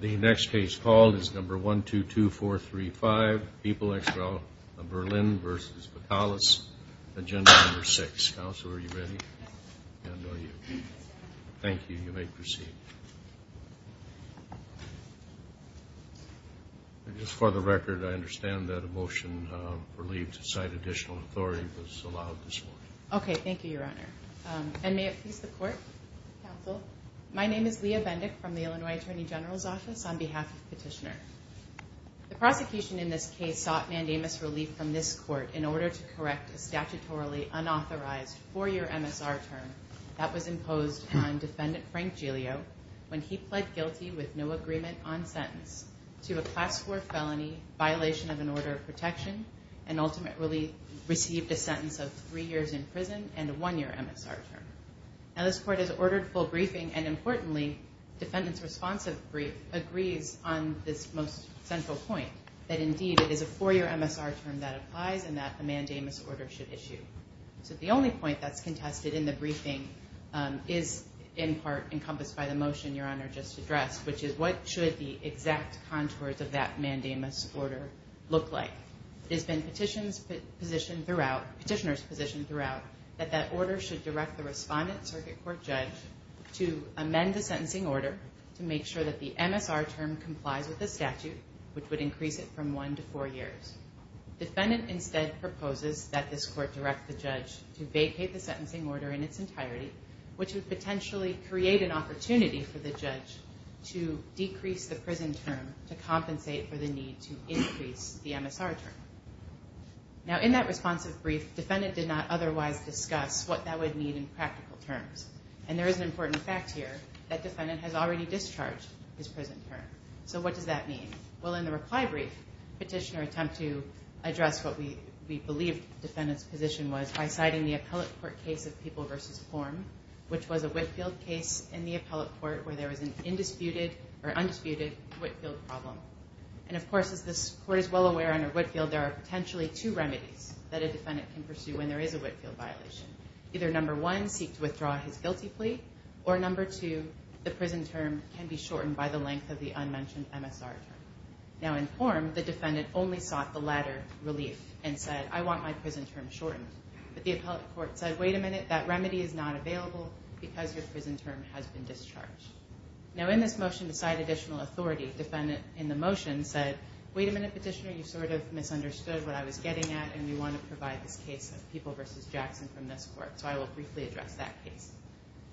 The next case called is number 122435, people ex rel. Berlin v. Bakalis, agenda number 6. Counsel, are you ready? Thank you, you may proceed. Just for the record, I understand that a motion for leave to cite additional authority was allowed this morning. Okay, thank you, Your Honor. And may it please the Court, Counsel. My name is Leah Bendick from the Illinois Attorney General's Office on behalf of Petitioner. The prosecution in this case sought mandamus relief from this Court in order to correct a statutorily unauthorized four-year MSR term that was imposed on Defendant Frank Giglio when he pled guilty with no agreement on sentence to a Class IV felony, violation of an order of protection, and ultimate relief received a sentence of three years in prison and a one-year MSR term. Now, this Court has ordered full briefing, and importantly, Defendant's responsive brief agrees on this most central point, that indeed it is a four-year MSR term that applies and that a mandamus order should issue. So the only point that's contested in the briefing is in part encompassed by the motion Your Honor just addressed, which is what should the exact contours of that mandamus order look like. It has been Petitioner's position throughout that that order should direct the respondent, Circuit Court Judge, to amend the sentencing order to make sure that the MSR term complies with the statute, which would increase it from one to four years. Defendant instead proposes that this Court direct the judge to vacate the sentencing order in its entirety, which would potentially create an opportunity for the judge to decrease the prison term to compensate for the need to increase the MSR term. Now, in that responsive brief, Defendant did not otherwise discuss what that would mean in practical terms, and there is an important fact here that Defendant has already discharged his prison term. So what does that mean? Well, in the reply brief, Petitioner attempted to address what we believe Defendant's position was by citing the appellate court case of People v. Form, which was a Whitfield case in the appellate court where there was an undisputed Whitfield problem. And, of course, as this Court is well aware under Whitfield, there are potentially two remedies that a defendant can pursue when there is a Whitfield violation. Either, number one, seek to withdraw his guilty plea, or, number two, the prison term can be shortened by the length of the unmentioned MSR term. Now, in Form, the defendant only sought the latter relief and said, I want my prison term shortened. But the appellate court said, wait a minute, that remedy is not available because your prison term has been discharged. Now, in this motion to cite additional authority, Defendant, in the motion, said, wait a minute, Petitioner, you sort of misunderstood what I was getting at, and we want to provide this case of People v. Jackson from this Court, so I will briefly address that case.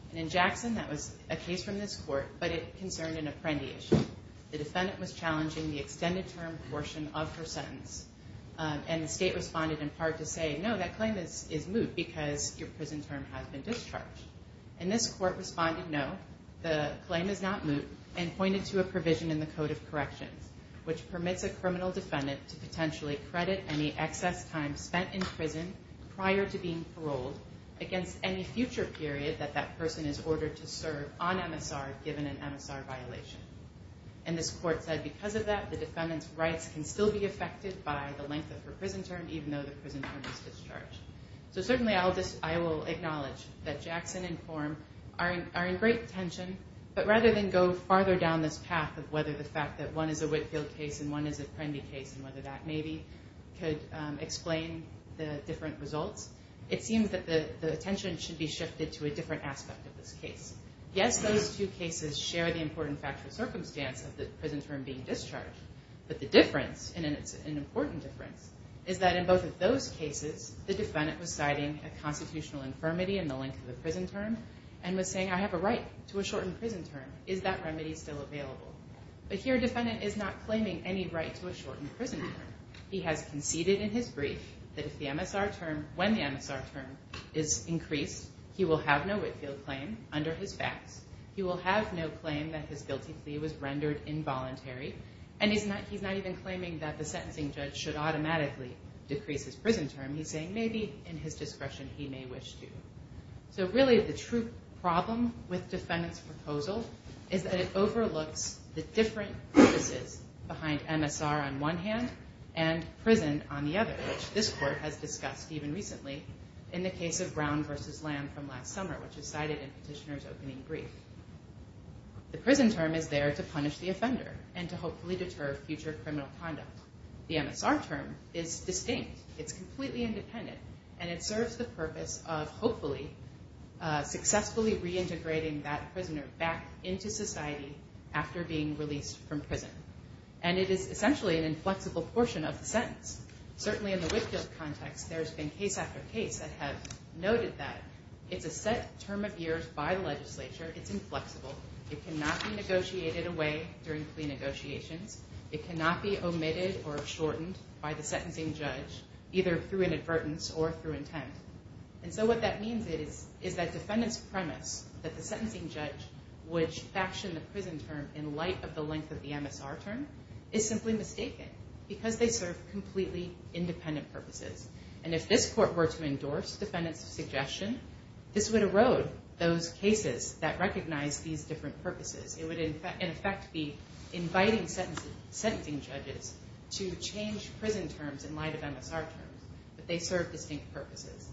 And in Jackson, that was a case from this Court, but it concerned an apprendiation. The defendant was challenging the extended term portion of her sentence, and the State responded in part to say, no, that claim is moot because your prison term has been discharged. And this Court responded, no, the claim is not moot, and pointed to a provision in the Code of Corrections, which permits a criminal defendant to potentially credit any excess time spent in prison prior to being paroled against any future period that that person is ordered to serve on MSR given an MSR violation. And this Court said, because of that, the defendant's rights can still be affected by the length of her prison term, even though the prison term is discharged. So certainly I will acknowledge that Jackson and Form are in great tension, but rather than go farther down this path of whether the fact that one is a Whitfield case and one is an apprendi case, and whether that maybe could explain the different results, it seems that the attention should be shifted to a different aspect of this case. Yes, those two cases share the important factual circumstance of the prison term being discharged, but the difference, and it's an important difference, is that in both of those cases, the defendant was citing a constitutional infirmity in the length of the prison term, and was saying, I have a right to a shortened prison term. Is that remedy still available? But here a defendant is not claiming any right to a shortened prison term. He has conceded in his brief that if the MSR term, when the MSR term is increased, he will have no Whitfield claim under his facts. He will have no claim that his guilty plea was rendered involuntary. And he's not even claiming that the sentencing judge should automatically decrease his prison term. He's saying maybe in his discretion he may wish to. So really the true problem with defendant's proposal is that it overlooks the different purposes behind MSR on one hand and prison on the other, which this court has discussed even recently in the case of Brown v. Lamb from last summer, which is cited in Petitioner's opening brief. The prison term is there to punish the offender and to hopefully deter future criminal conduct. The MSR term is distinct. It's completely independent. And it serves the purpose of hopefully successfully reintegrating that prisoner back into society after being released from prison. And it is essentially an inflexible portion of the sentence. Certainly in the Whitfield context, there's been case after case that have noted that it's a set term of years by the legislature. It's inflexible. It cannot be negotiated away during plea negotiations. It cannot be omitted or shortened by the sentencing judge, either through inadvertence or through intent. And so what that means is that defendant's premise that the sentencing judge would fashion the prison term in light of the length of the MSR term is simply mistaken because they serve completely independent purposes. And if this court were to endorse defendant's suggestion, this would erode those cases that recognize these different purposes. It would, in effect, be inviting sentencing judges to change prison terms in light of MSR terms, but they serve distinct purposes.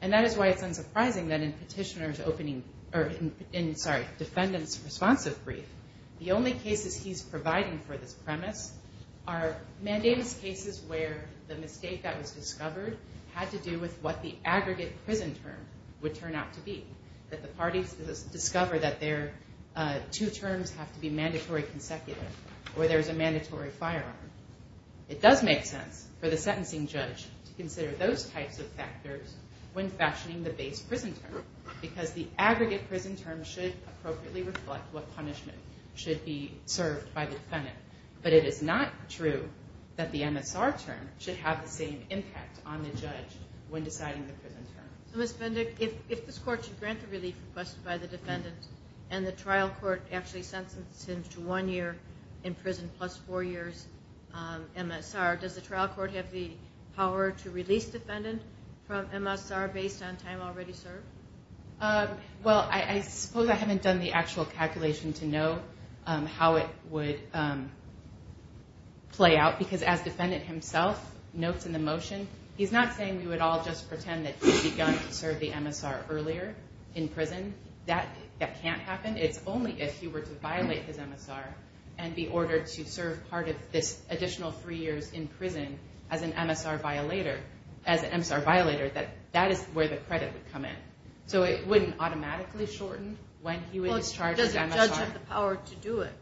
And that is why it's unsurprising that in Petitioner's opening, or in, sorry, defendant's responsive brief, the only cases he's providing for this premise are mandamus cases where the mistake that was discovered had to do with what the aggregate prison term would turn out to be, that the parties discover that their two terms have to be mandatory consecutive or there's a mandatory firearm. It does make sense for the sentencing judge to consider those types of factors when fashioning the base prison term because the aggregate prison term should appropriately reflect what punishment should be served by the defendant. But it is not true that the MSR term should have the same impact on the judge when deciding the prison term. Ms. Bendick, if this court should grant the relief request by the defendant and the trial court actually sentences him to one year in prison plus four years MSR, does the trial court have the power to release defendant from MSR based on time already served? Well, I suppose I haven't done the actual calculation to know how it would play out because as defendant himself notes in the motion, he's not saying we would all just pretend that he began to serve the MSR earlier in prison. That can't happen. It's only if he were to violate his MSR and be ordered to serve part of this additional three years in prison as an MSR violator, that that is where the credit would come in. So it wouldn't automatically shorten when he was charged with MSR. Does the judge have the power to do it?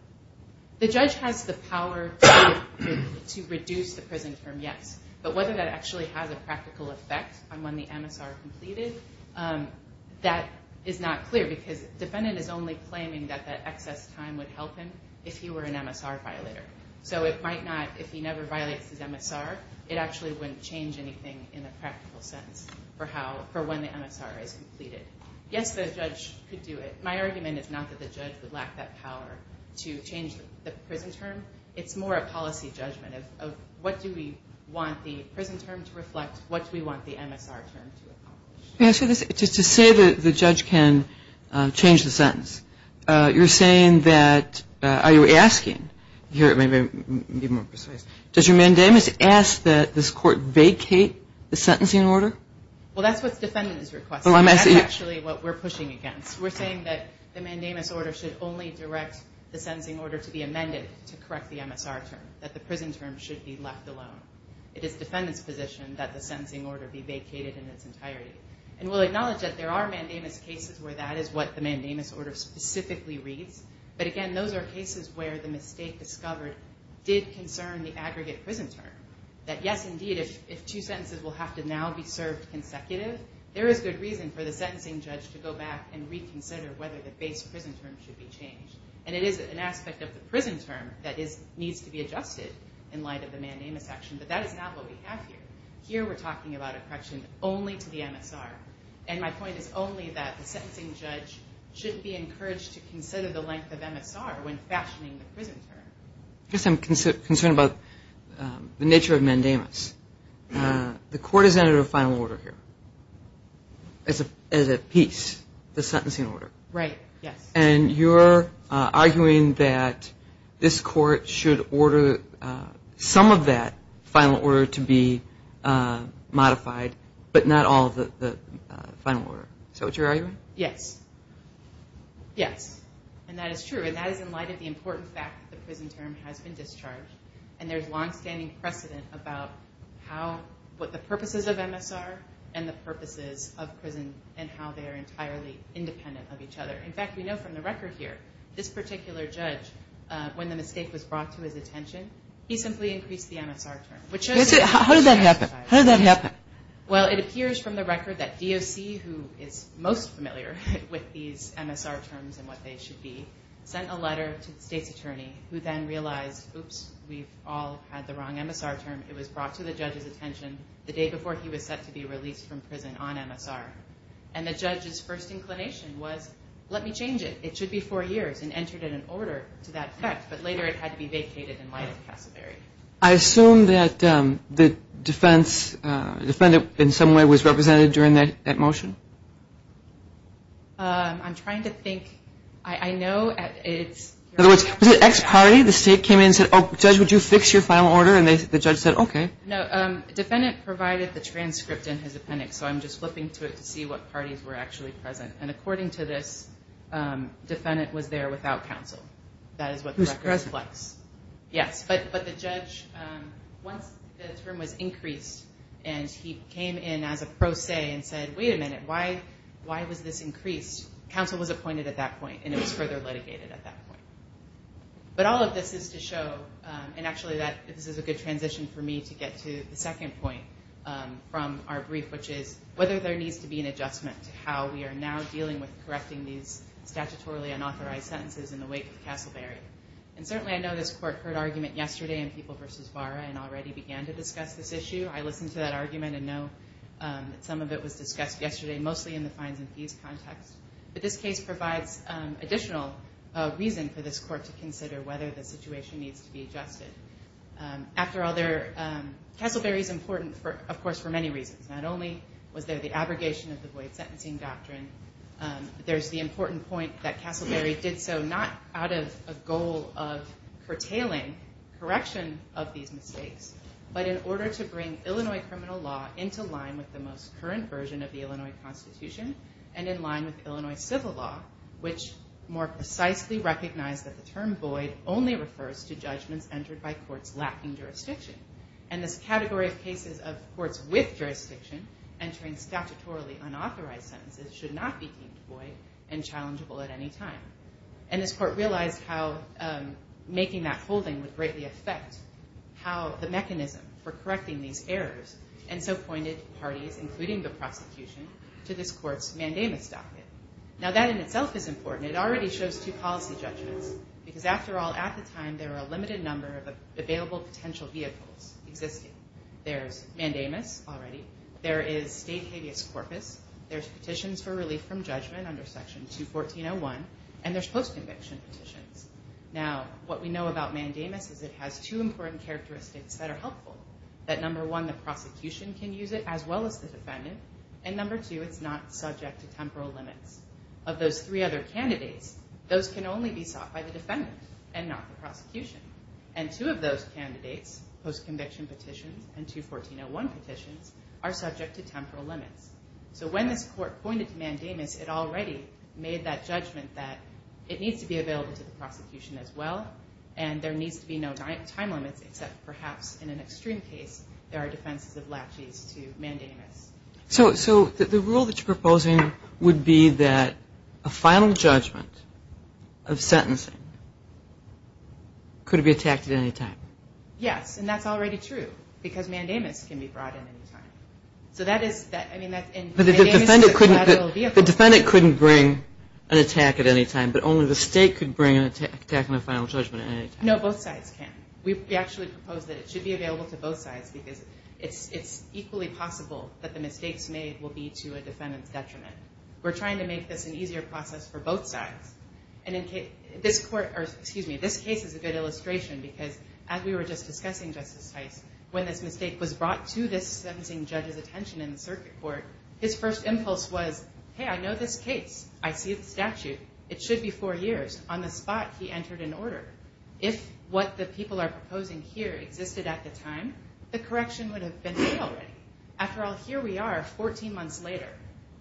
The judge has the power to reduce the prison term, yes. But whether that actually has a practical effect on when the MSR is completed, that is not clear because defendant is only claiming that that excess time would help him if he were an MSR violator. So it might not, if he never violates his MSR, it actually wouldn't change anything in a practical sense for when the MSR is completed. Yes, the judge could do it. My argument is not that the judge would lack that power to change the prison term. It's more a policy judgment of what do we want the prison term to reflect? What do we want the MSR term to accomplish? To say that the judge can change the sentence, you're saying that, are you asking, to be more precise, does your mandamus ask that this court vacate the sentencing order? Well, that's what the defendant is requesting. That's actually what we're pushing against. We're saying that the mandamus order should only direct the sentencing order to be amended to correct the MSR term. That the prison term should be left alone. It is defendant's position that the sentencing order be vacated in its entirety. And we'll acknowledge that there are mandamus cases where that is what the mandamus order specifically reads. But again, those are cases where the mistake discovered did concern the aggregate prison term. That yes, indeed, if two sentences will have to now be served consecutive, there is good reason for the sentencing judge to go back and reconsider whether the base prison term should be changed. And it is an aspect of the prison term that needs to be adjusted in light of the mandamus action. But that is not what we have here. Here we're talking about a correction only to the MSR. And my point is only that the sentencing judge should be encouraged to consider the length of MSR when fashioning the prison term. I guess I'm concerned about the nature of mandamus. The court has entered a final order here. As a piece, the sentencing order. Right, yes. And you're arguing that this court should order some of that final order to be modified, but not all of the final order. Is that what you're arguing? Yes. Yes. And that is true. And that is in light of the important fact that the prison term has been discharged. And there's longstanding precedent about what the purposes of MSR and the purposes of prison and how they are entirely independent of each other. In fact, we know from the record here, this particular judge, when the mistake was brought to his attention, he simply increased the MSR term. How did that happen? Well, it appears from the record that DOC, who is most familiar with these MSR terms who then realized, oops, we've all had the wrong MSR term. It was brought to the judge's attention the day before he was set to be released from prison on MSR. And the judge's first inclination was, let me change it. It should be four years, and entered in an order to that effect. But later it had to be vacated in light of Casselberry. I assume that the defendant in some way was represented during that motion. I'm trying to think. In other words, was it ex-party? The state came in and said, oh, judge, would you fix your final order? And the judge said, okay. No, defendant provided the transcript in his appendix, so I'm just flipping through it to see what parties were actually present. And according to this, defendant was there without counsel. That is what the record reflects. Who's present? Yes, but the judge, once the term was increased and he came in as a pro se and said, wait a minute, why was this increased? Counsel was appointed at that point, and it was further litigated at that point. But all of this is to show, and actually this is a good transition for me to get to the second point from our brief, which is whether there needs to be an adjustment to how we are now dealing with correcting these statutorily unauthorized sentences in the wake of Casselberry. And certainly I know this court heard argument yesterday in People v. Vara and already began to discuss this issue. I listened to that argument and know that some of it was discussed yesterday, mostly in the fines and fees context. But this case provides additional reason for this court to consider whether the situation needs to be adjusted. After all, Casselberry is important, of course, for many reasons. Not only was there the abrogation of the void sentencing doctrine, there's the important point that Casselberry did so not out of a goal of curtailing correction of these mistakes, but in order to bring Illinois criminal law into line with the most current version of the Illinois Constitution and in line with Illinois civil law, which more precisely recognized that the term void only refers to judgments entered by courts lacking jurisdiction. And this category of cases of courts with jurisdiction entering statutorily unauthorized sentences should not be deemed void and challengeable at any time. And this court realized how making that holding would greatly affect the mechanism for correcting these errors and so pointed parties, including the prosecution, to this court's mandamus doctrine. Now, that in itself is important. It already shows two policy judgments, because after all, at the time, there were a limited number of available potential vehicles existing. There's mandamus already. There is state habeas corpus. There's petitions for relief from judgment under Section 214.01. And there's post-conviction petitions. Now, what we know about mandamus is it has two important characteristics that are helpful, that number one, the prosecution can use it as well as the defendant, and number two, it's not subject to temporal limits. Of those three other candidates, those can only be sought by the defendant and not the prosecution. And two of those candidates, post-conviction petitions and 214.01 petitions, are subject to temporal limits. So when this court pointed to mandamus, it already made that judgment that it needs to be available to the prosecution as well, and there needs to be no time limits, except perhaps in an extreme case, there are defenses of latches to mandamus. So the rule that you're proposing would be that a final judgment of sentencing could be attacked at any time. Yes, and that's already true, because mandamus can be brought in at any time. So that is, I mean, that's in mandamus is a collateral vehicle. But the defendant couldn't bring an attack at any time, but only the state could bring an attack on a final judgment at any time. No, both sides can. We actually propose that it should be available to both sides, because it's equally possible that the mistakes made will be to a defendant's detriment. We're trying to make this an easier process for both sides. And in this court or, excuse me, this case is a good illustration, because as we were just discussing, Justice Heist, when this mistake was brought to this sentencing judge's attention in the circuit court, his first impulse was, hey, I know this case. I see the statute. It should be four years. On the spot, he entered an order. If what the people are proposing here existed at the time, the correction would have been made already. After all, here we are 14 months later,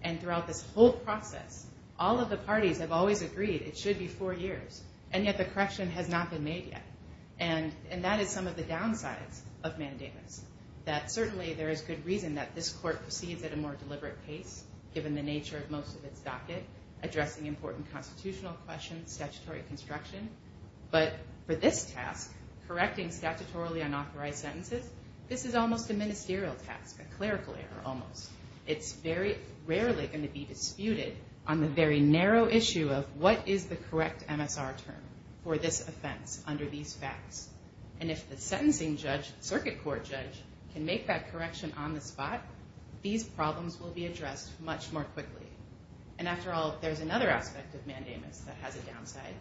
and throughout this whole process, all of the parties have always agreed it should be four years, and yet the correction has not been made yet. And that is some of the downsides of mandamus, that certainly there is good reason that this court proceeds at a more deliberate pace, given the nature of most of its docket, addressing important constitutional questions, statutory construction. But for this task, correcting statutorily unauthorized sentences, this is almost a ministerial task, a clerical error almost. It's very rarely going to be disputed on the very narrow issue of what is the correct MSR term for this offense under these facts. And if the sentencing judge, circuit court judge, can make that correction on the spot, these problems will be addressed much more quickly. And after all, there's another aspect of mandamus that has a downside,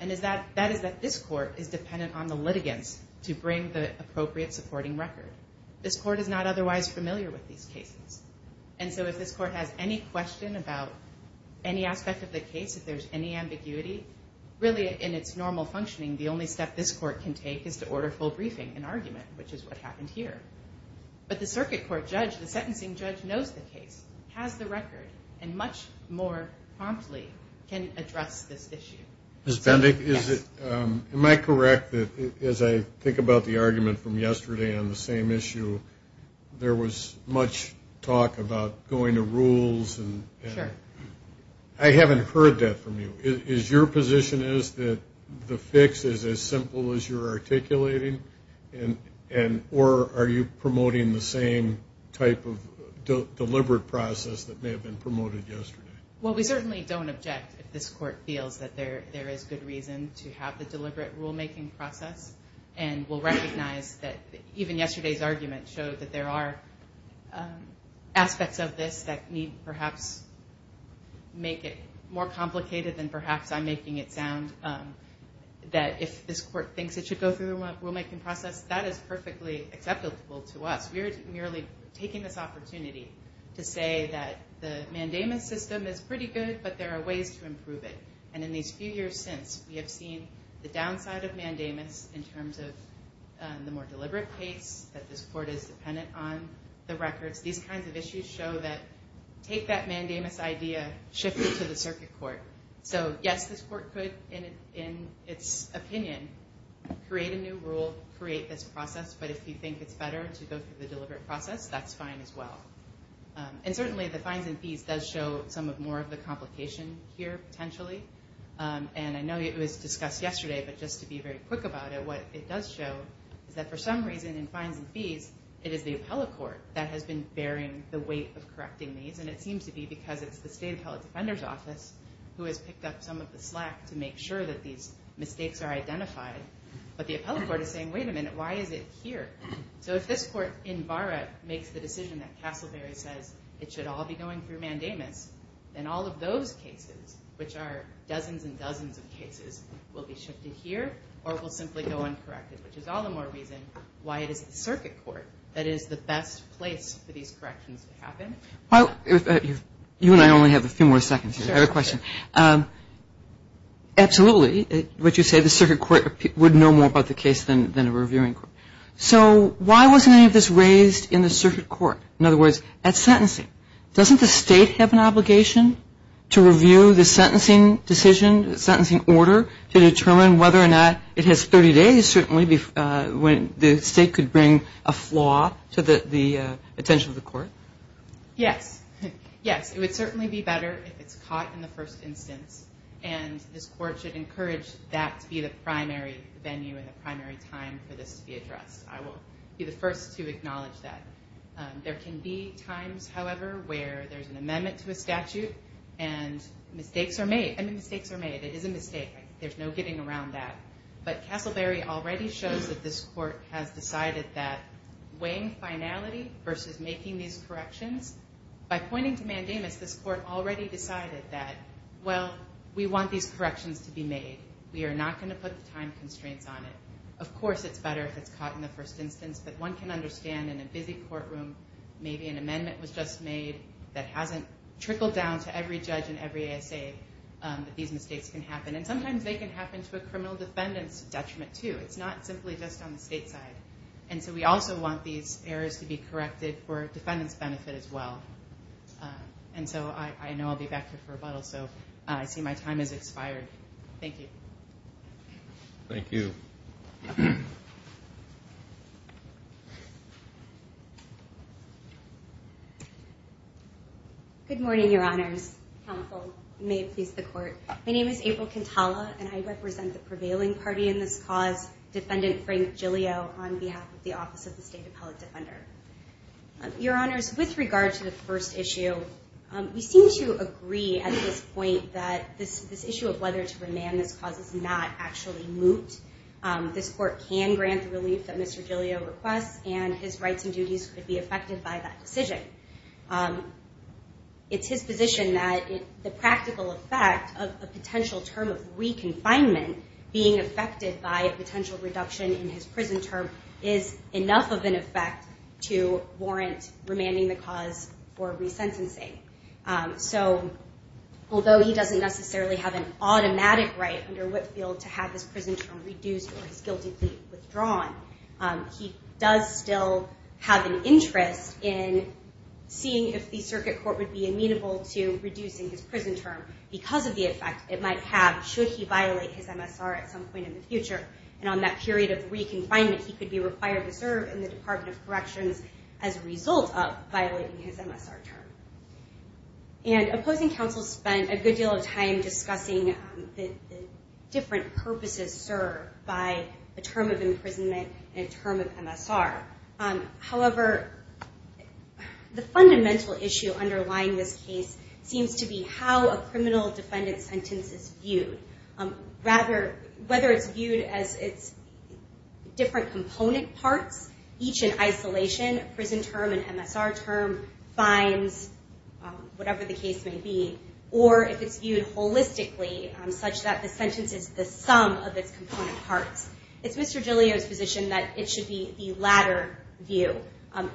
and that is that this court is dependent on the litigants to bring the appropriate supporting record. This court is not otherwise familiar with these cases. And so if this court has any question about any aspect of the case, if there's any ambiguity, really in its normal functioning, the only step this court can take is to order full briefing and argument, which is what happened here. But the circuit court judge, the sentencing judge, knows the case, has the record, and much more promptly can address this issue. Ms. Bendick, am I correct that, as I think about the argument from yesterday on the same issue, there was much talk about going to rules? Sure. I haven't heard that from you. Is your position is that the fix is as simple as you're articulating, or are you promoting the same type of deliberate process that may have been promoted yesterday? Well, we certainly don't object if this court feels that there is good reason to have the deliberate rulemaking process. And we'll recognize that even yesterday's argument showed that there are aspects of this that need perhaps make it more complicated than perhaps I'm making it sound, that if this court thinks it should go through the rulemaking process, that is perfectly acceptable to us. We are merely taking this opportunity to say that the mandamus system is pretty good, but there are ways to improve it. And in these few years since, we have seen the downside of mandamus in terms of the more deliberate case, that this court is dependent on the records. These kinds of issues show that take that mandamus idea, shift it to the circuit court. So, yes, this court could, in its opinion, create a new rule, create this process. But if you think it's better to go through the deliberate process, that's fine as well. And certainly the fines and fees does show some of more of the complication here potentially. And I know it was discussed yesterday, but just to be very quick about it, what it does show is that for some reason in fines and fees, it is the appellate court that has been bearing the weight of correcting these. And it seems to be because it's the State Appellate Defender's Office who has picked up some of the slack to make sure that these mistakes are identified. But the appellate court is saying, wait a minute, why is it here? So if this court in Barrett makes the decision that Castleberry says it should all be going through mandamus, then all of those cases, which are dozens and dozens of cases, will be shifted here, or will simply go uncorrected, which is all the more reason why it is the circuit court that is the best place for these corrections to happen. Okay. You and I only have a few more seconds. I have a question. Absolutely, would you say the circuit court would know more about the case than a reviewing court? So why wasn't any of this raised in the circuit court? In other words, at sentencing, doesn't the State have an obligation to review the sentencing decision, sentencing order, to determine whether or not it has 30 days when the State could bring a flaw to the attention of the court? Yes. Yes, it would certainly be better if it's caught in the first instance, and this court should encourage that to be the primary venue and the primary time for this to be addressed. I will be the first to acknowledge that. There can be times, however, where there's an amendment to a statute and mistakes are made. I mean, mistakes are made. It is a mistake. There's no getting around that. But Castleberry already shows that this court has decided that weighing finality versus making these corrections, by pointing to mandamus, this court already decided that, well, we want these corrections to be made. We are not going to put the time constraints on it. Of course, it's better if it's caught in the first instance, but one can understand in a busy courtroom maybe an amendment was just made that hasn't trickled down to every judge and every ASA that these mistakes can happen. And sometimes they can happen to a criminal defendant's detriment too. It's not simply just on the state side. And so we also want these errors to be corrected for defendant's benefit as well. And so I know I'll be back here for rebuttal, so I see my time has expired. Thank you. Thank you. Counsel, may it please the Court. My name is April Cantalla, and I represent the prevailing party in this cause, Defendant Frank Giglio, on behalf of the Office of the State Appellate Defender. Your Honors, with regard to the first issue, we seem to agree at this point that this issue of whether to remand this cause is not actually moot. This court can grant the relief that Mr. Giglio requests, It's his position that the practical effect of a potential term of re-confinement being affected by a potential reduction in his prison term is enough of an effect to warrant remanding the cause for resentencing. So although he doesn't necessarily have an automatic right under Whitfield to have his prison term reduced or his guilty plea withdrawn, he does still have an interest in seeing if the circuit court would be amenable to reducing his prison term because of the effect it might have should he violate his MSR at some point in the future. And on that period of re-confinement, he could be required to serve in the Department of Corrections as a result of violating his MSR term. And opposing counsel spent a good deal of time discussing the different purposes served by a term of imprisonment and a term of MSR. However, the fundamental issue underlying this case seems to be how a criminal defendant sentence is viewed. Rather, whether it's viewed as its different component parts, each in isolation, prison term and MSR term, fines, whatever the case may be, or if it's viewed holistically such that the sentence is the sum of its component parts. It's Mr. Giglio's position that it should be the latter view,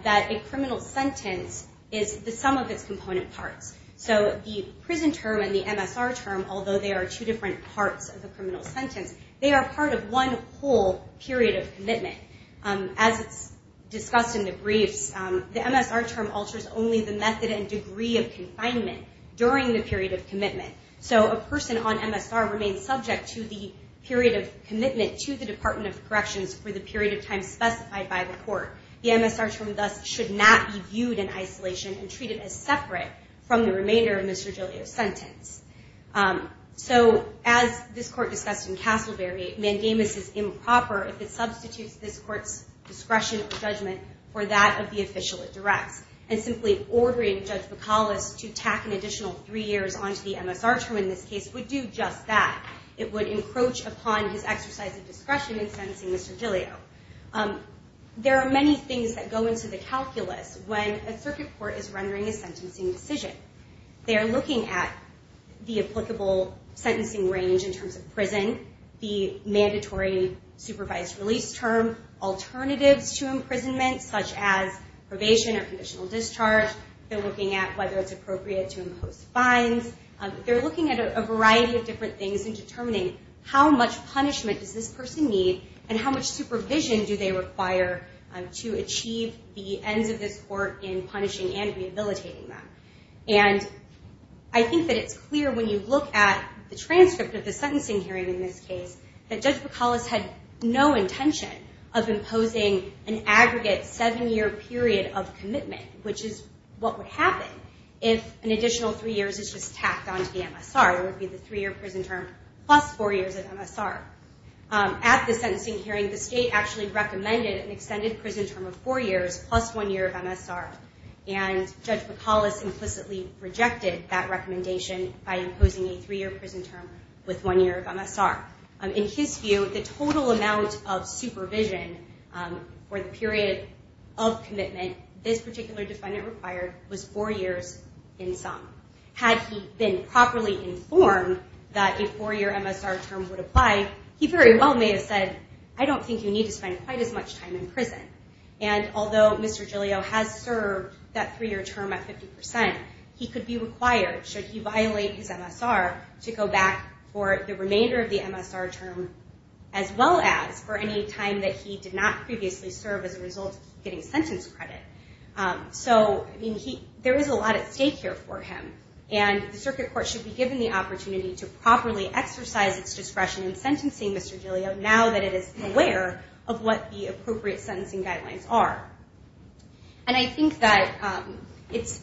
that a criminal sentence is the sum of its component parts. So the prison term and the MSR term, although they are two different parts of the criminal sentence, they are part of one whole period of commitment. As it's discussed in the briefs, the MSR term alters only the method and degree of confinement during the period of commitment. So a person on MSR remains subject to the period of commitment to the Department of Corrections for the period of time specified by the court. The MSR term, thus, should not be viewed in isolation and treated as separate from the remainder of Mr. Giglio's sentence. So as this court discussed in Castleberry, mandamus is improper if it substitutes this court's discretion or judgment for that of the official it directs. And simply ordering Judge McAuliffe to tack an additional three years onto the MSR term in this case would do just that. It would encroach upon his exercise of discretion in sentencing Mr. Giglio. There are many things that go into the calculus when a circuit court is rendering a sentencing decision. They are looking at the applicable sentencing range in terms of prison, the mandatory supervised release term, alternatives to imprisonment, such as probation or conditional discharge. They're looking at whether it's appropriate to impose fines. They're looking at a variety of different things in determining how much punishment does this person need and how much supervision do they require to achieve the ends of this court in punishing and rehabilitating them. And I think that it's clear when you look at the transcript of the sentencing hearing in this case that Judge McAuliffe had no intention of imposing an aggregate seven-year period of commitment, which is what would happen if an additional three years is just tacked onto the MSR. It would be the three-year prison term plus four years of MSR. At the sentencing hearing, the state actually recommended an extended prison term of four years plus one year of MSR, and Judge McAuliffe implicitly rejected that recommendation by imposing a three-year prison term with one year of MSR. In his view, the total amount of supervision for the period of commitment this particular defendant required was four years in sum. Had he been properly informed that a four-year MSR term would apply, he very well may have said, I don't think you need to spend quite as much time in prison. And although Mr. Giglio has served that three-year term at 50%, he could be required, should he violate his MSR, to go back for the remainder of the MSR term as well as for any time that he did not previously serve as a result of getting sentence credit. So there is a lot at stake here for him, and the circuit court should be given the opportunity to properly exercise its discretion in sentencing Mr. Giglio now that it is aware of what the appropriate sentencing guidelines are. And I think that it's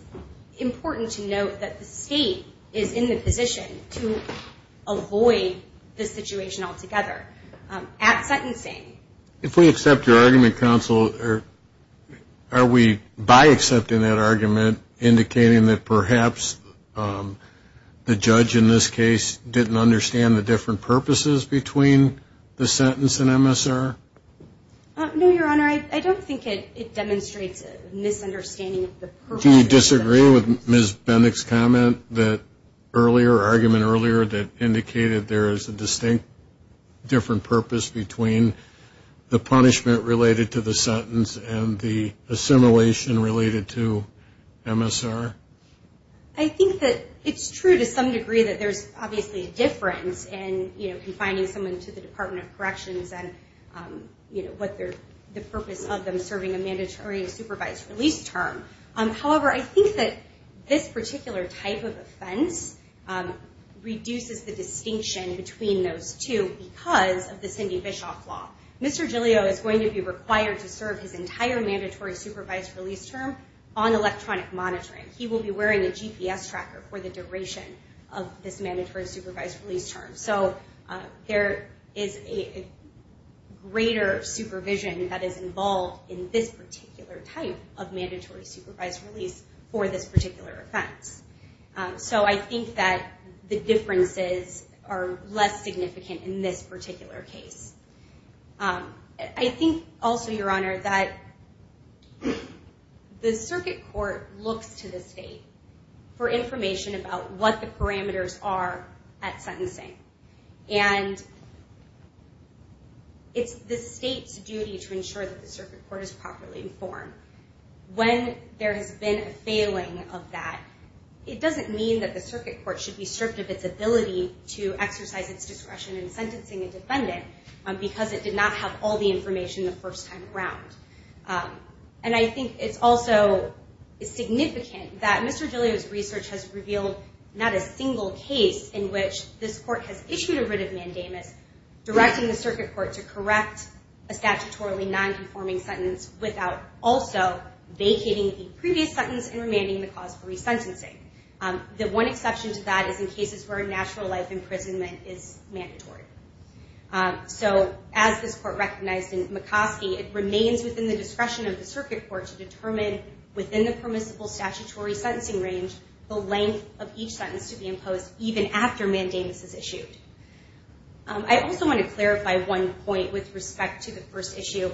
important to note that the state is in the position to avoid this situation altogether. At sentencing... If we accept your argument, counsel, are we by accepting that argument indicating that perhaps the judge in this case didn't understand the different purposes between the sentence and MSR? No, Your Honor, I don't think it demonstrates a misunderstanding of the purpose of the sentence. Do you disagree with Ms. Bendick's comment earlier, argument earlier, that indicated there is a distinct different purpose between the punishment related to the sentence and the assimilation related to MSR? I think that it's true to some degree that there's obviously a difference in confining someone to the Department of Corrections and what the purpose of them serving a mandatory supervised release term. However, I think that this particular type of offense reduces the distinction between those two because of the Cindy Bischoff Law. Mr. Giglio is going to be required to serve his entire mandatory supervised release term on electronic monitoring. He will be wearing a GPS tracker for the duration of this mandatory supervised release term. So there is a greater supervision that is involved in this particular type of mandatory supervised release for this particular offense. So I think that the differences are less significant in this particular case. I think also, Your Honor, that the circuit court looks to the state for information about what the parameters are at sentencing. It's the state's duty to ensure that the circuit court is properly informed. When there has been a failing of that, it doesn't mean that the circuit court should be stripped of its ability to exercise its discretion in sentencing a defendant because it did not have all the information the first time around. I think it's also significant that Mr. Giglio's research has revealed not a single case in which this court has issued a writ of mandamus directing the circuit court to correct a statutorily nonconforming sentence without also vacating the previous sentence and remanding the cause for resentencing. The one exception to that is in cases where natural life imprisonment is mandatory. So as this court recognized in McCoskey, it remains within the discretion of the circuit court to determine within the permissible statutory sentencing range the length of each sentence to be imposed even after mandamus is issued. I also want to clarify one point with respect to the first issue.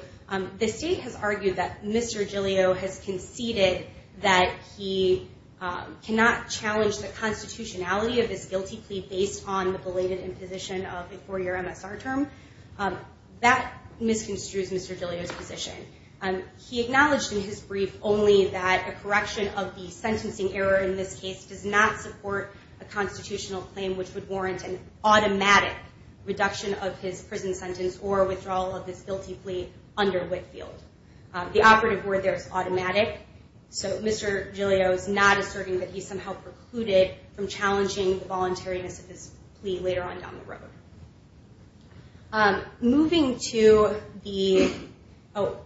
The state has argued that Mr. Giglio has conceded that he cannot challenge the constitutionality of his guilty plea based on the belated imposition of a four-year MSR term. That misconstrues Mr. Giglio's position. He acknowledged in his brief only that a correction of the sentencing error in this case does not support a constitutional claim which would warrant an automatic reduction of his prison sentence or withdrawal of his guilty plea under Whitfield. The operative word there is automatic, so Mr. Giglio is not asserting that he somehow precluded from challenging the voluntariness of his plea later on down the road. Moving to the, oh,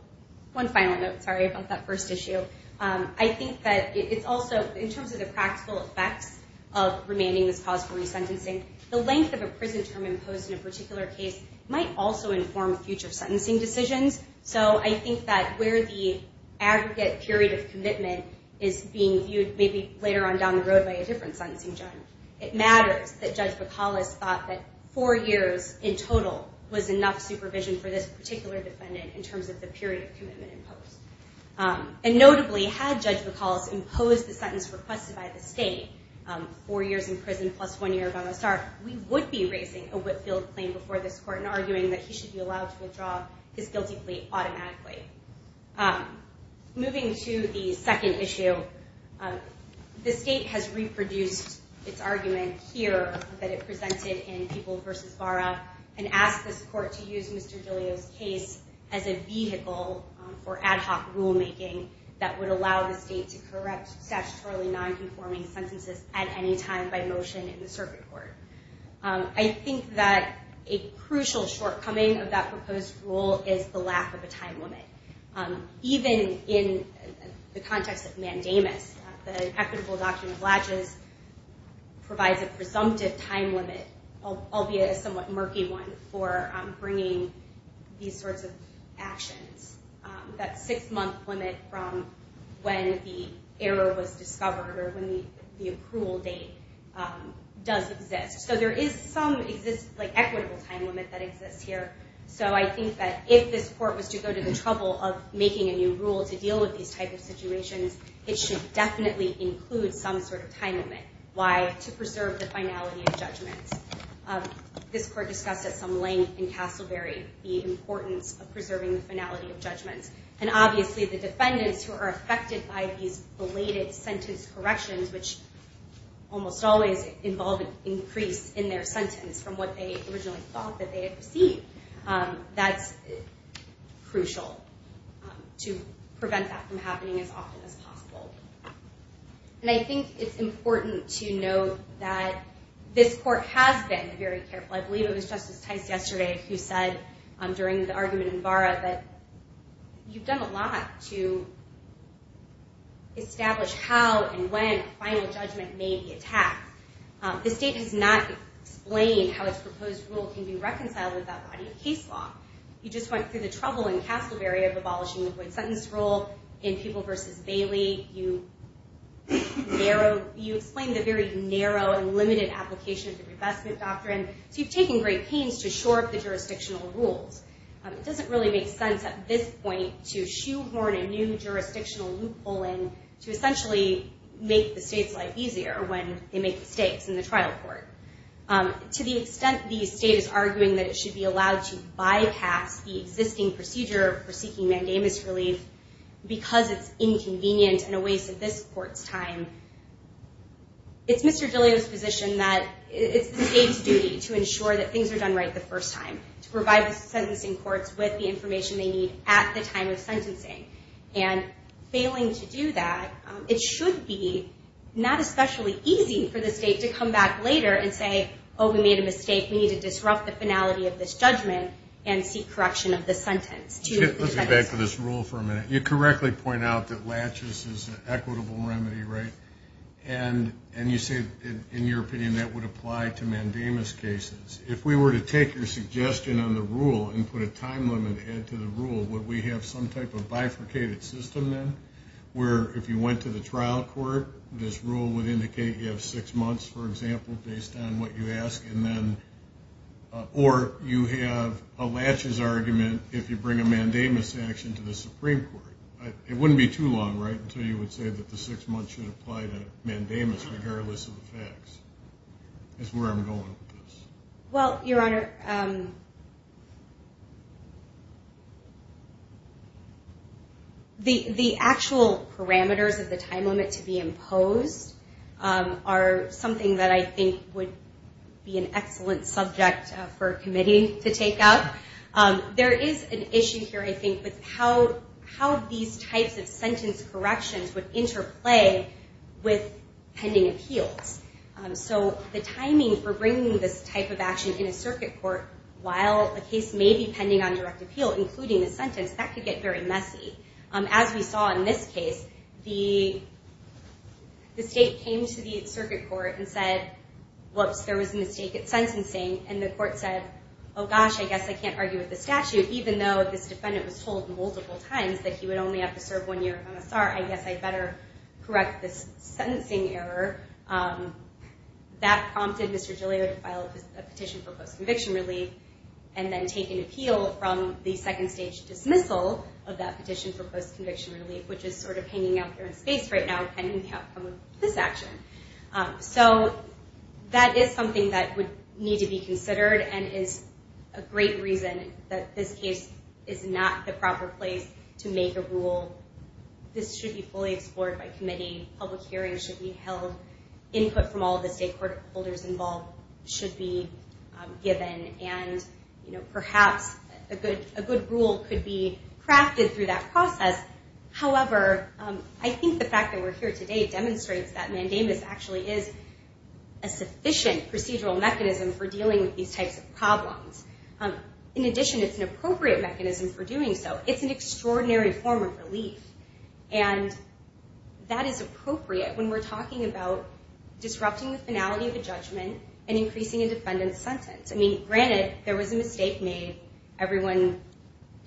one final note, sorry, about that first issue. I think that it's also, in terms of the practical effects of remanding this cause for resentencing, the length of a prison term imposed in a particular case might also inform future sentencing decisions. So I think that where the aggregate period of commitment is being viewed maybe later on down the road by a different sentencing judge, it matters that Judge McAuliffe thought that four years in total was enough supervision for this particular defendant in terms of the period of commitment imposed. And notably, had Judge McAuliffe imposed the sentence requested by the state, four years in prison plus one year of MSR, we would be raising a Whitfield claim before this court and arguing that he should be allowed to withdraw his guilty plea automatically. Moving to the second issue, the state has reproduced its argument here that it presented in People v. Barra and asked this court to use Mr. Giglio's case as a vehicle for ad hoc rulemaking that would allow the state to correct statutorily nonconforming sentences at any time by motion in the circuit court. I think that a crucial shortcoming of that proposed rule is the lack of a time limit. Even in the context of mandamus, the equitable document latches provides a presumptive time limit, albeit a somewhat murky one, for bringing these sorts of actions. That six-month limit from when the error was discovered or when the approval date does exist. So there is some equitable time limit that exists here. So I think that if this court was to go to the trouble of making a new rule to deal with these types of situations, it should definitely include some sort of time limit. Why? To preserve the finality of judgments. This court discussed at some length in Castleberry the importance of preserving the finality of judgments. And obviously the defendants who are affected by these belated sentence corrections, which almost always involve an increase in their sentence from what they originally thought that they had received, that's crucial to prevent that from happening as often as possible. And I think it's important to note that this court has been very careful. I believe it was Justice Tice yesterday who said during the argument in Barra that you've done a lot to establish how and when final judgment may be attacked. The state has not explained how its proposed rule can be reconciled with that body of case law. You just went through the trouble in Castleberry of abolishing the void sentence rule. In Peeble v. Bailey, you explained the very narrow and limited application of the revestment doctrine. So you've taken great pains to shore up the jurisdictional rules. It doesn't really make sense at this point to shoehorn a new jurisdictional loophole in to essentially make the state's life easier when they make mistakes in the trial court. To the extent the state is arguing that it should be allowed to bypass the existing procedure for seeking mandamus relief because it's inconvenient and a waste of this court's time, it's Mr. DiLeo's position that it's the state's duty to ensure that things are done right the first time, to provide the sentencing courts with the information they need at the time of sentencing. And failing to do that, it should be not especially easy for the state to come back later and say, oh, we made a mistake. We need to disrupt the finality of this judgment and seek correction of the sentence. Let's go back to this rule for a minute. You correctly point out that laches is an equitable remedy, right? And you say in your opinion that would apply to mandamus cases. If we were to take your suggestion on the rule and put a time limit to add to the rule, would we have some type of bifurcated system then where if you went to the trial court, this rule would indicate you have six months, for example, based on what you ask, or you have a laches argument if you bring a mandamus action to the Supreme Court. It wouldn't be too long, right, until you would say that the six months should apply to mandamus, regardless of the facts. That's where I'm going with this. Well, Your Honor, the actual parameters of the time limit to be imposed are something that I think would be an excellent subject for a committee to take up. There is an issue here, I think, with how these types of sentence corrections would interplay with pending appeals. So the timing for bringing this type of action in a circuit court while a case may be pending on direct appeal, including the sentence, that could get very messy. As we saw in this case, the state came to the circuit court and said, whoops, there was a mistake at sentencing, and the court said, oh gosh, I guess I can't argue with the statute, even though this defendant was told multiple times that he would only have to serve one year of MSR. I guess I better correct this sentencing error. That prompted Mr. Giglio to file a petition for post-conviction relief, and then take an appeal from the second-stage dismissal of that petition for post-conviction relief, which is sort of hanging out there in space right now, pending the outcome of this action. So that is something that would need to be considered, and is a great reason that this case is not the proper place to make a rule. This should be fully explored by committee. Public hearings should be held. Input from all of the stakeholders involved should be given, and perhaps a good rule could be crafted through that process. However, I think the fact that we're here today demonstrates that mandamus actually is a sufficient procedural mechanism for dealing with these types of problems. In addition, it's an appropriate mechanism for doing so. It's an extraordinary form of relief, and that is appropriate when we're talking about granted there was a mistake made. Everyone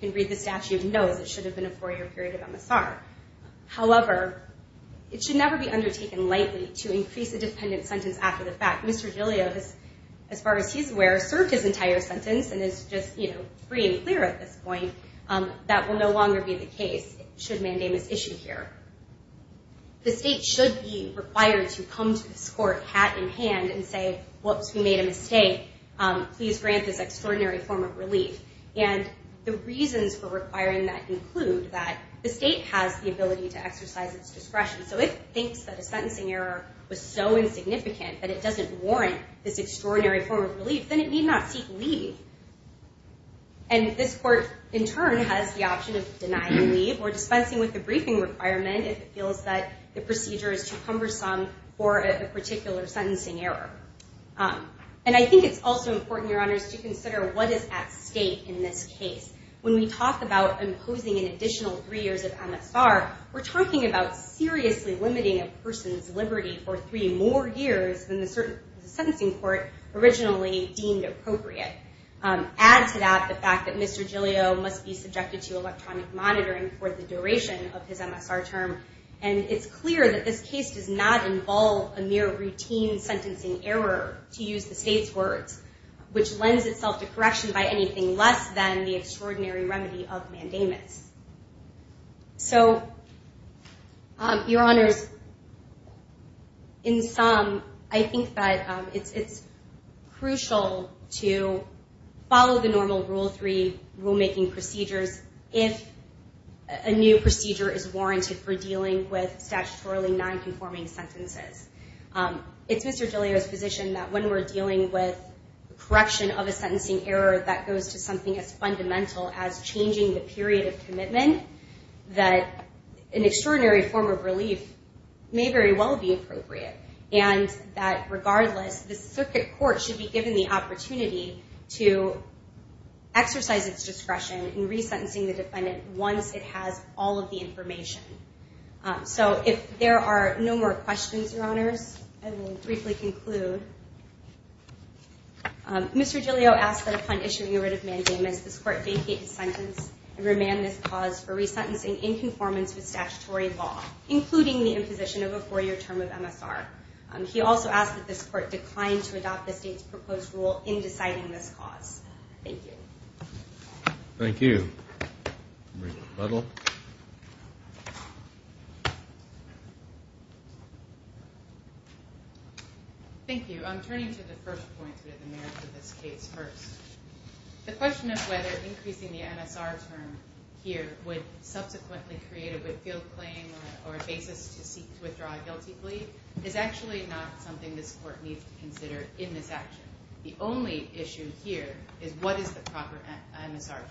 who can read the statute knows it should have been a four-year period of MSR. However, it should never be undertaken lightly to increase a dependent sentence after the fact. Mr. Giglio, as far as he's aware, served his entire sentence and is just free and clear at this point. That will no longer be the case should mandamus issue here. The state should be required to come to this court hat in hand and say, whoops, we made a mistake. Please grant this extraordinary form of relief. The reasons for requiring that include that the state has the ability to exercise its discretion. So if it thinks that a sentencing error was so insignificant that it doesn't warrant this extraordinary form of relief, then it need not seek leave. And this court, in turn, has the option of denying leave or dispensing with the briefing requirement if it feels that the procedure is too cumbersome for a particular sentencing error. And I think it's also important, Your Honors, to consider what is at stake in this case. When we talk about imposing an additional three years of MSR, we're talking about seriously limiting a person's liberty for three more years than the state. Add to that the fact that Mr. Giglio must be subjected to electronic monitoring for the duration of his MSR term. And it's clear that this case does not involve a mere routine sentencing error, to use the state's words, which lends itself to correction by anything less than the extraordinary remedy of mandamus. So, Your Honors, in sum, I think that it's crucial to follow the normal Rule 3 rulemaking procedures if a new procedure is warranted for dealing with statutorily nonconforming sentences. It's Mr. Giglio's position that when we're dealing with correction of a sentencing error that goes to something as fundamental as changing the period of commitment, that an extraordinary form of relief may very well be appropriate. And that, regardless, the circuit court should be given the opportunity to exercise its discretion in resentencing the defendant once it has all of the information. So, if there are no more questions, Your Honors, I will briefly conclude. Mr. Giglio asked that upon issuing a writ of mandamus, this court vacate his sentence and remand this cause for resentencing in conformance with statutory law, including the imposition of a four-year term of MSR. He also asked that this court decline to adopt the state's proposed rule in deciding this cause. Thank you. Thank you. Marika Butler. Thank you. I'm turning to the first point, the merits of this case first. The question of whether increasing the MSR term here would subsequently create a field claim or a basis to seek to withdraw a guilty plea is actually not something this court needs to consider in this action. The only issue here is what is the proper MSR term.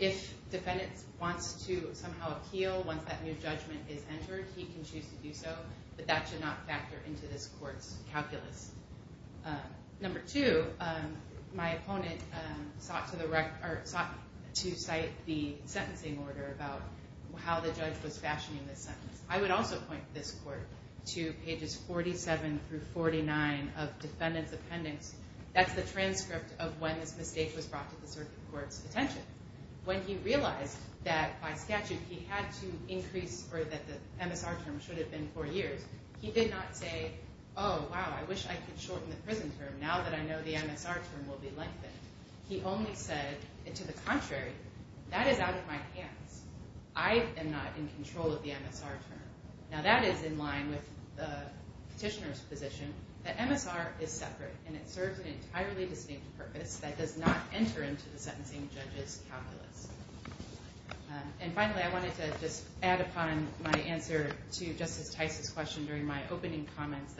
If defendants wants to somehow appeal once that new judgment is issued, number two, my opponent sought to cite the sentencing order about how the judge was fashioning this sentence. I would also point this court to pages 47 through 49 of defendant's appendix. That's the transcript of when this mistake was brought to the circuit court's attention. When he realized that by statute he had to increase, or that the MSR term should have been four years, he did not say, oh wow, I wish I could shorten the prison term now that I know the MSR term will be lengthened. He only said, to the contrary, that is out of my hands. I am not in control of the MSR term. Now that is in line with the petitioner's position. The MSR is separate and it serves an entirely distinct purpose that does not enter into the sentencing judge's calculus. And finally, I wanted to just add upon my answer to Justice Tice's question during my opening comments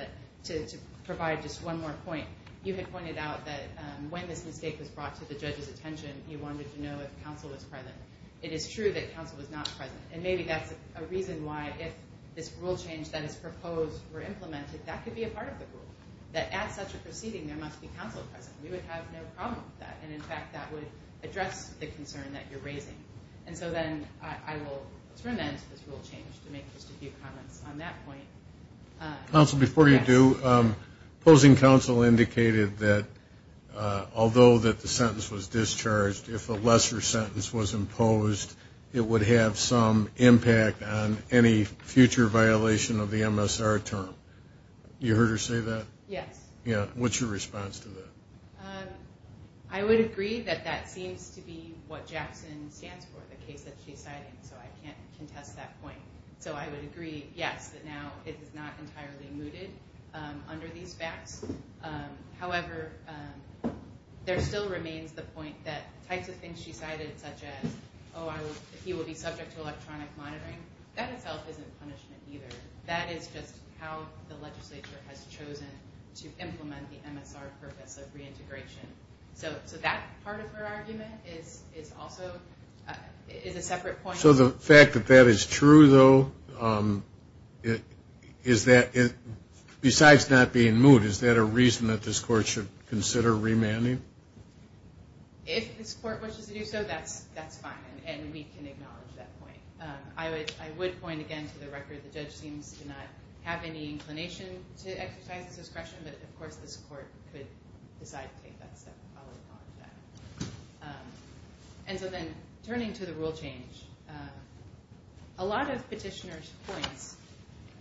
to provide just one more point. You had pointed out that when this mistake was brought to the judge's attention, you wanted to know if counsel was present. It is true that counsel was not present, and maybe that's a reason why if this rule change that is proposed were implemented, that could be a part of the rule, that at such a proceeding there must be counsel present. We would have no problem with that, and in fact that would address the concern that you're raising. And so then I will turn then to this rule change to make just a few comments on that point. Counsel, before you do, opposing counsel indicated that although that the sentence was discharged, if a lesser sentence was imposed, it would have some impact on any future violation of the MSR term. You heard her say that? Yes. What's your response to that? I would agree that that seems to be what Jackson stands for, the case that she's citing, so I can't contest that point. So I would agree, yes, that now it is not entirely mooted under these facts. However, there still remains the point that types of things she cited such as, oh, he will be subject to electronic monitoring, that itself isn't punishment either. That is just how the legislature has chosen to implement the MSR purpose of reintegration. So that part of her argument is also a separate point. So the fact that that is true, though, besides not being moot, is that a reason that this court should consider remanding? If this court wishes to do so, that's fine, and we can acknowledge that point. I would point again to the record, the judge seems to not have any inclination to exercise this discretion, but of course this court could decide to take that step. And so then turning to the rule change, a lot of petitioners' points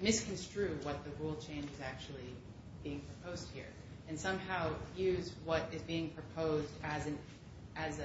misconstrue what the rule change is actually being proposed here, and somehow use what is being proposed as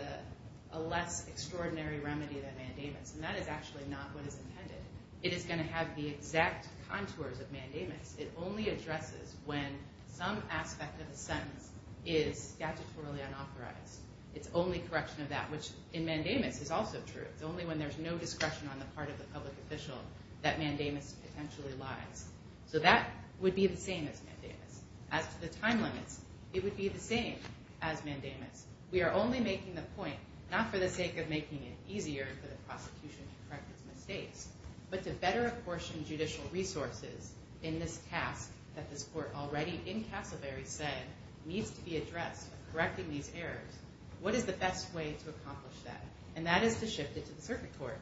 a less extraordinary remedy than mandamus. And that is actually not what is intended. It is going to have the exact contours of mandamus. It only addresses when some aspect of the sentence is statutorily unauthorized. It's only correction of that, which in mandamus is also true. It's only when there's no discretion on the part of the public official that mandamus potentially lies. So that would be the same as mandamus. As to the time limits, it would be the same as mandamus. We are only making the point, not for the sake of making it easier for the prosecution to correct its mistakes, but to better apportion judicial resources in this task that this court already, in Casselberry, said, needs to be addressed in correcting these errors, what is the best way to accomplish that? And that is to shift it to the circuit court.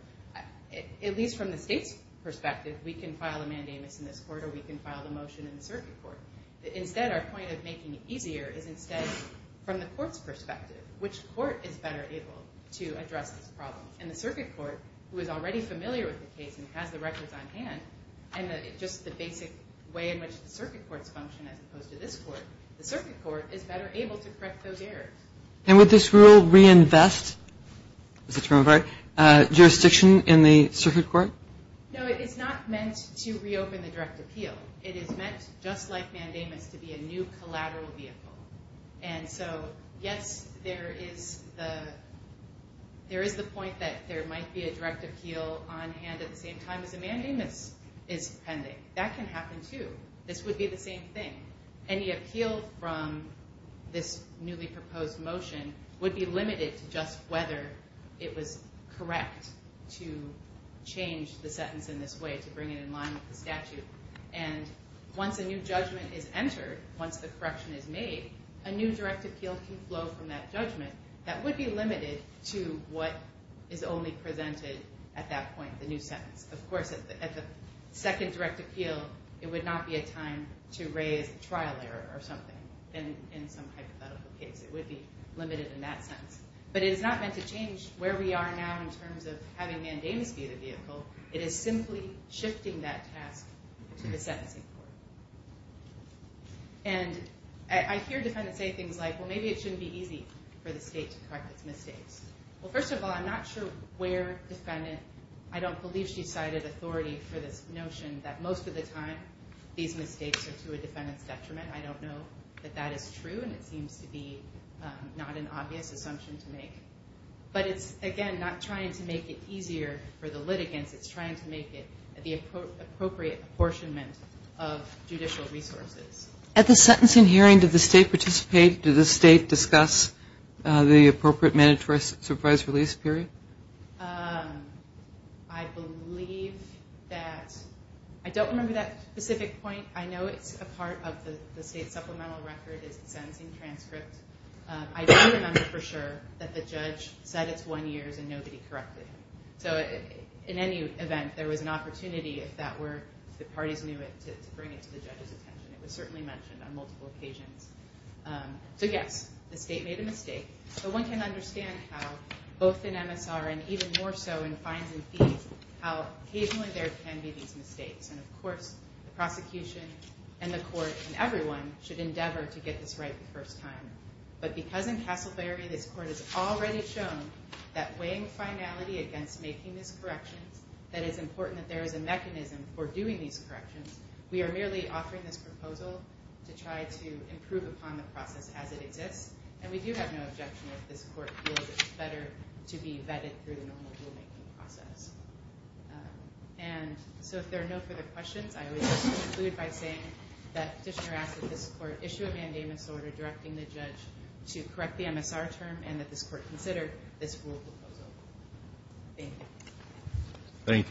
At least from the state's perspective, we can file a mandamus in this court, or we can file a motion in the circuit court. Instead, our point of making it easier is instead, from the court's perspective, which court is better able to address this problem? And the circuit court, who is already familiar with the case and has the records on hand, and just the basic way in which the circuit courts function as opposed to this court, the circuit court is better able to correct those errors. And would this rule reinvest jurisdiction in the circuit court? No, it's not meant to reopen the direct appeal. It is meant, just like mandamus, to be a new collateral vehicle. And so, yes, there is the point that there might be a direct appeal on hand at the same time as a mandamus is pending. That can happen, too. This would be the same thing. Any appeal from this newly proposed motion would be limited to just whether it was correct to change the sentence in this way, to bring it in line with the statute. And once a new judgment is entered, once the correction is made, a new direct appeal can flow from that judgment that would be limited to what is only presented at that point, the new sentence. Of course, at the second direct appeal, it would not be a time to raise a trial error or something in some hypothetical case. It would be limited in that sense. But it is not meant to change where we are now in terms of having mandamus be the vehicle. It is simply shifting that task to the sentencing court. And I hear defendants say things like, well, maybe it shouldn't be easy for the state to correct its mistakes. Well, first of all, I'm not sure where defendant, I don't believe she cited authority for this notion that most of the time these mistakes are to a defendant's detriment. I don't know that that is true, and it seems to be not an obvious assumption to make. But it's, again, not trying to make it easier for the litigants. It's trying to make it the appropriate apportionment of judicial resources. At the sentencing hearing, did the state participate? Did the state discuss the appropriate mandatory surprise release period? I don't remember that specific point. I know it's a part of the state's supplemental record, the sentencing transcript. I don't remember for sure that the judge said it's one year's and nobody corrected him. So in any event, there was an opportunity, if that were, if the parties knew it, to bring it to the judge's attention. It was certainly mentioned on multiple occasions. So yes, the state made a mistake. But one can understand how, both in MSR and even more so in fines and fees, how occasionally there can be these mistakes. And of course, the prosecution and the court and everyone should endeavor to get this right the first time. But because in Castleberry, this court has already shown that weighing finality against making these corrections, that it's important that there is a mechanism for doing these corrections, we are merely offering this proposal to try to improve upon the process as it exists. And we do have no objection if this court feels it's better to be vetted through the normal rulemaking process. And so if there are no further questions, I would just conclude by saying that Petitioner asks that this court issue a mandamus order directing the judge to correct the MSR term and that this court consider this rule proposal. Thank you.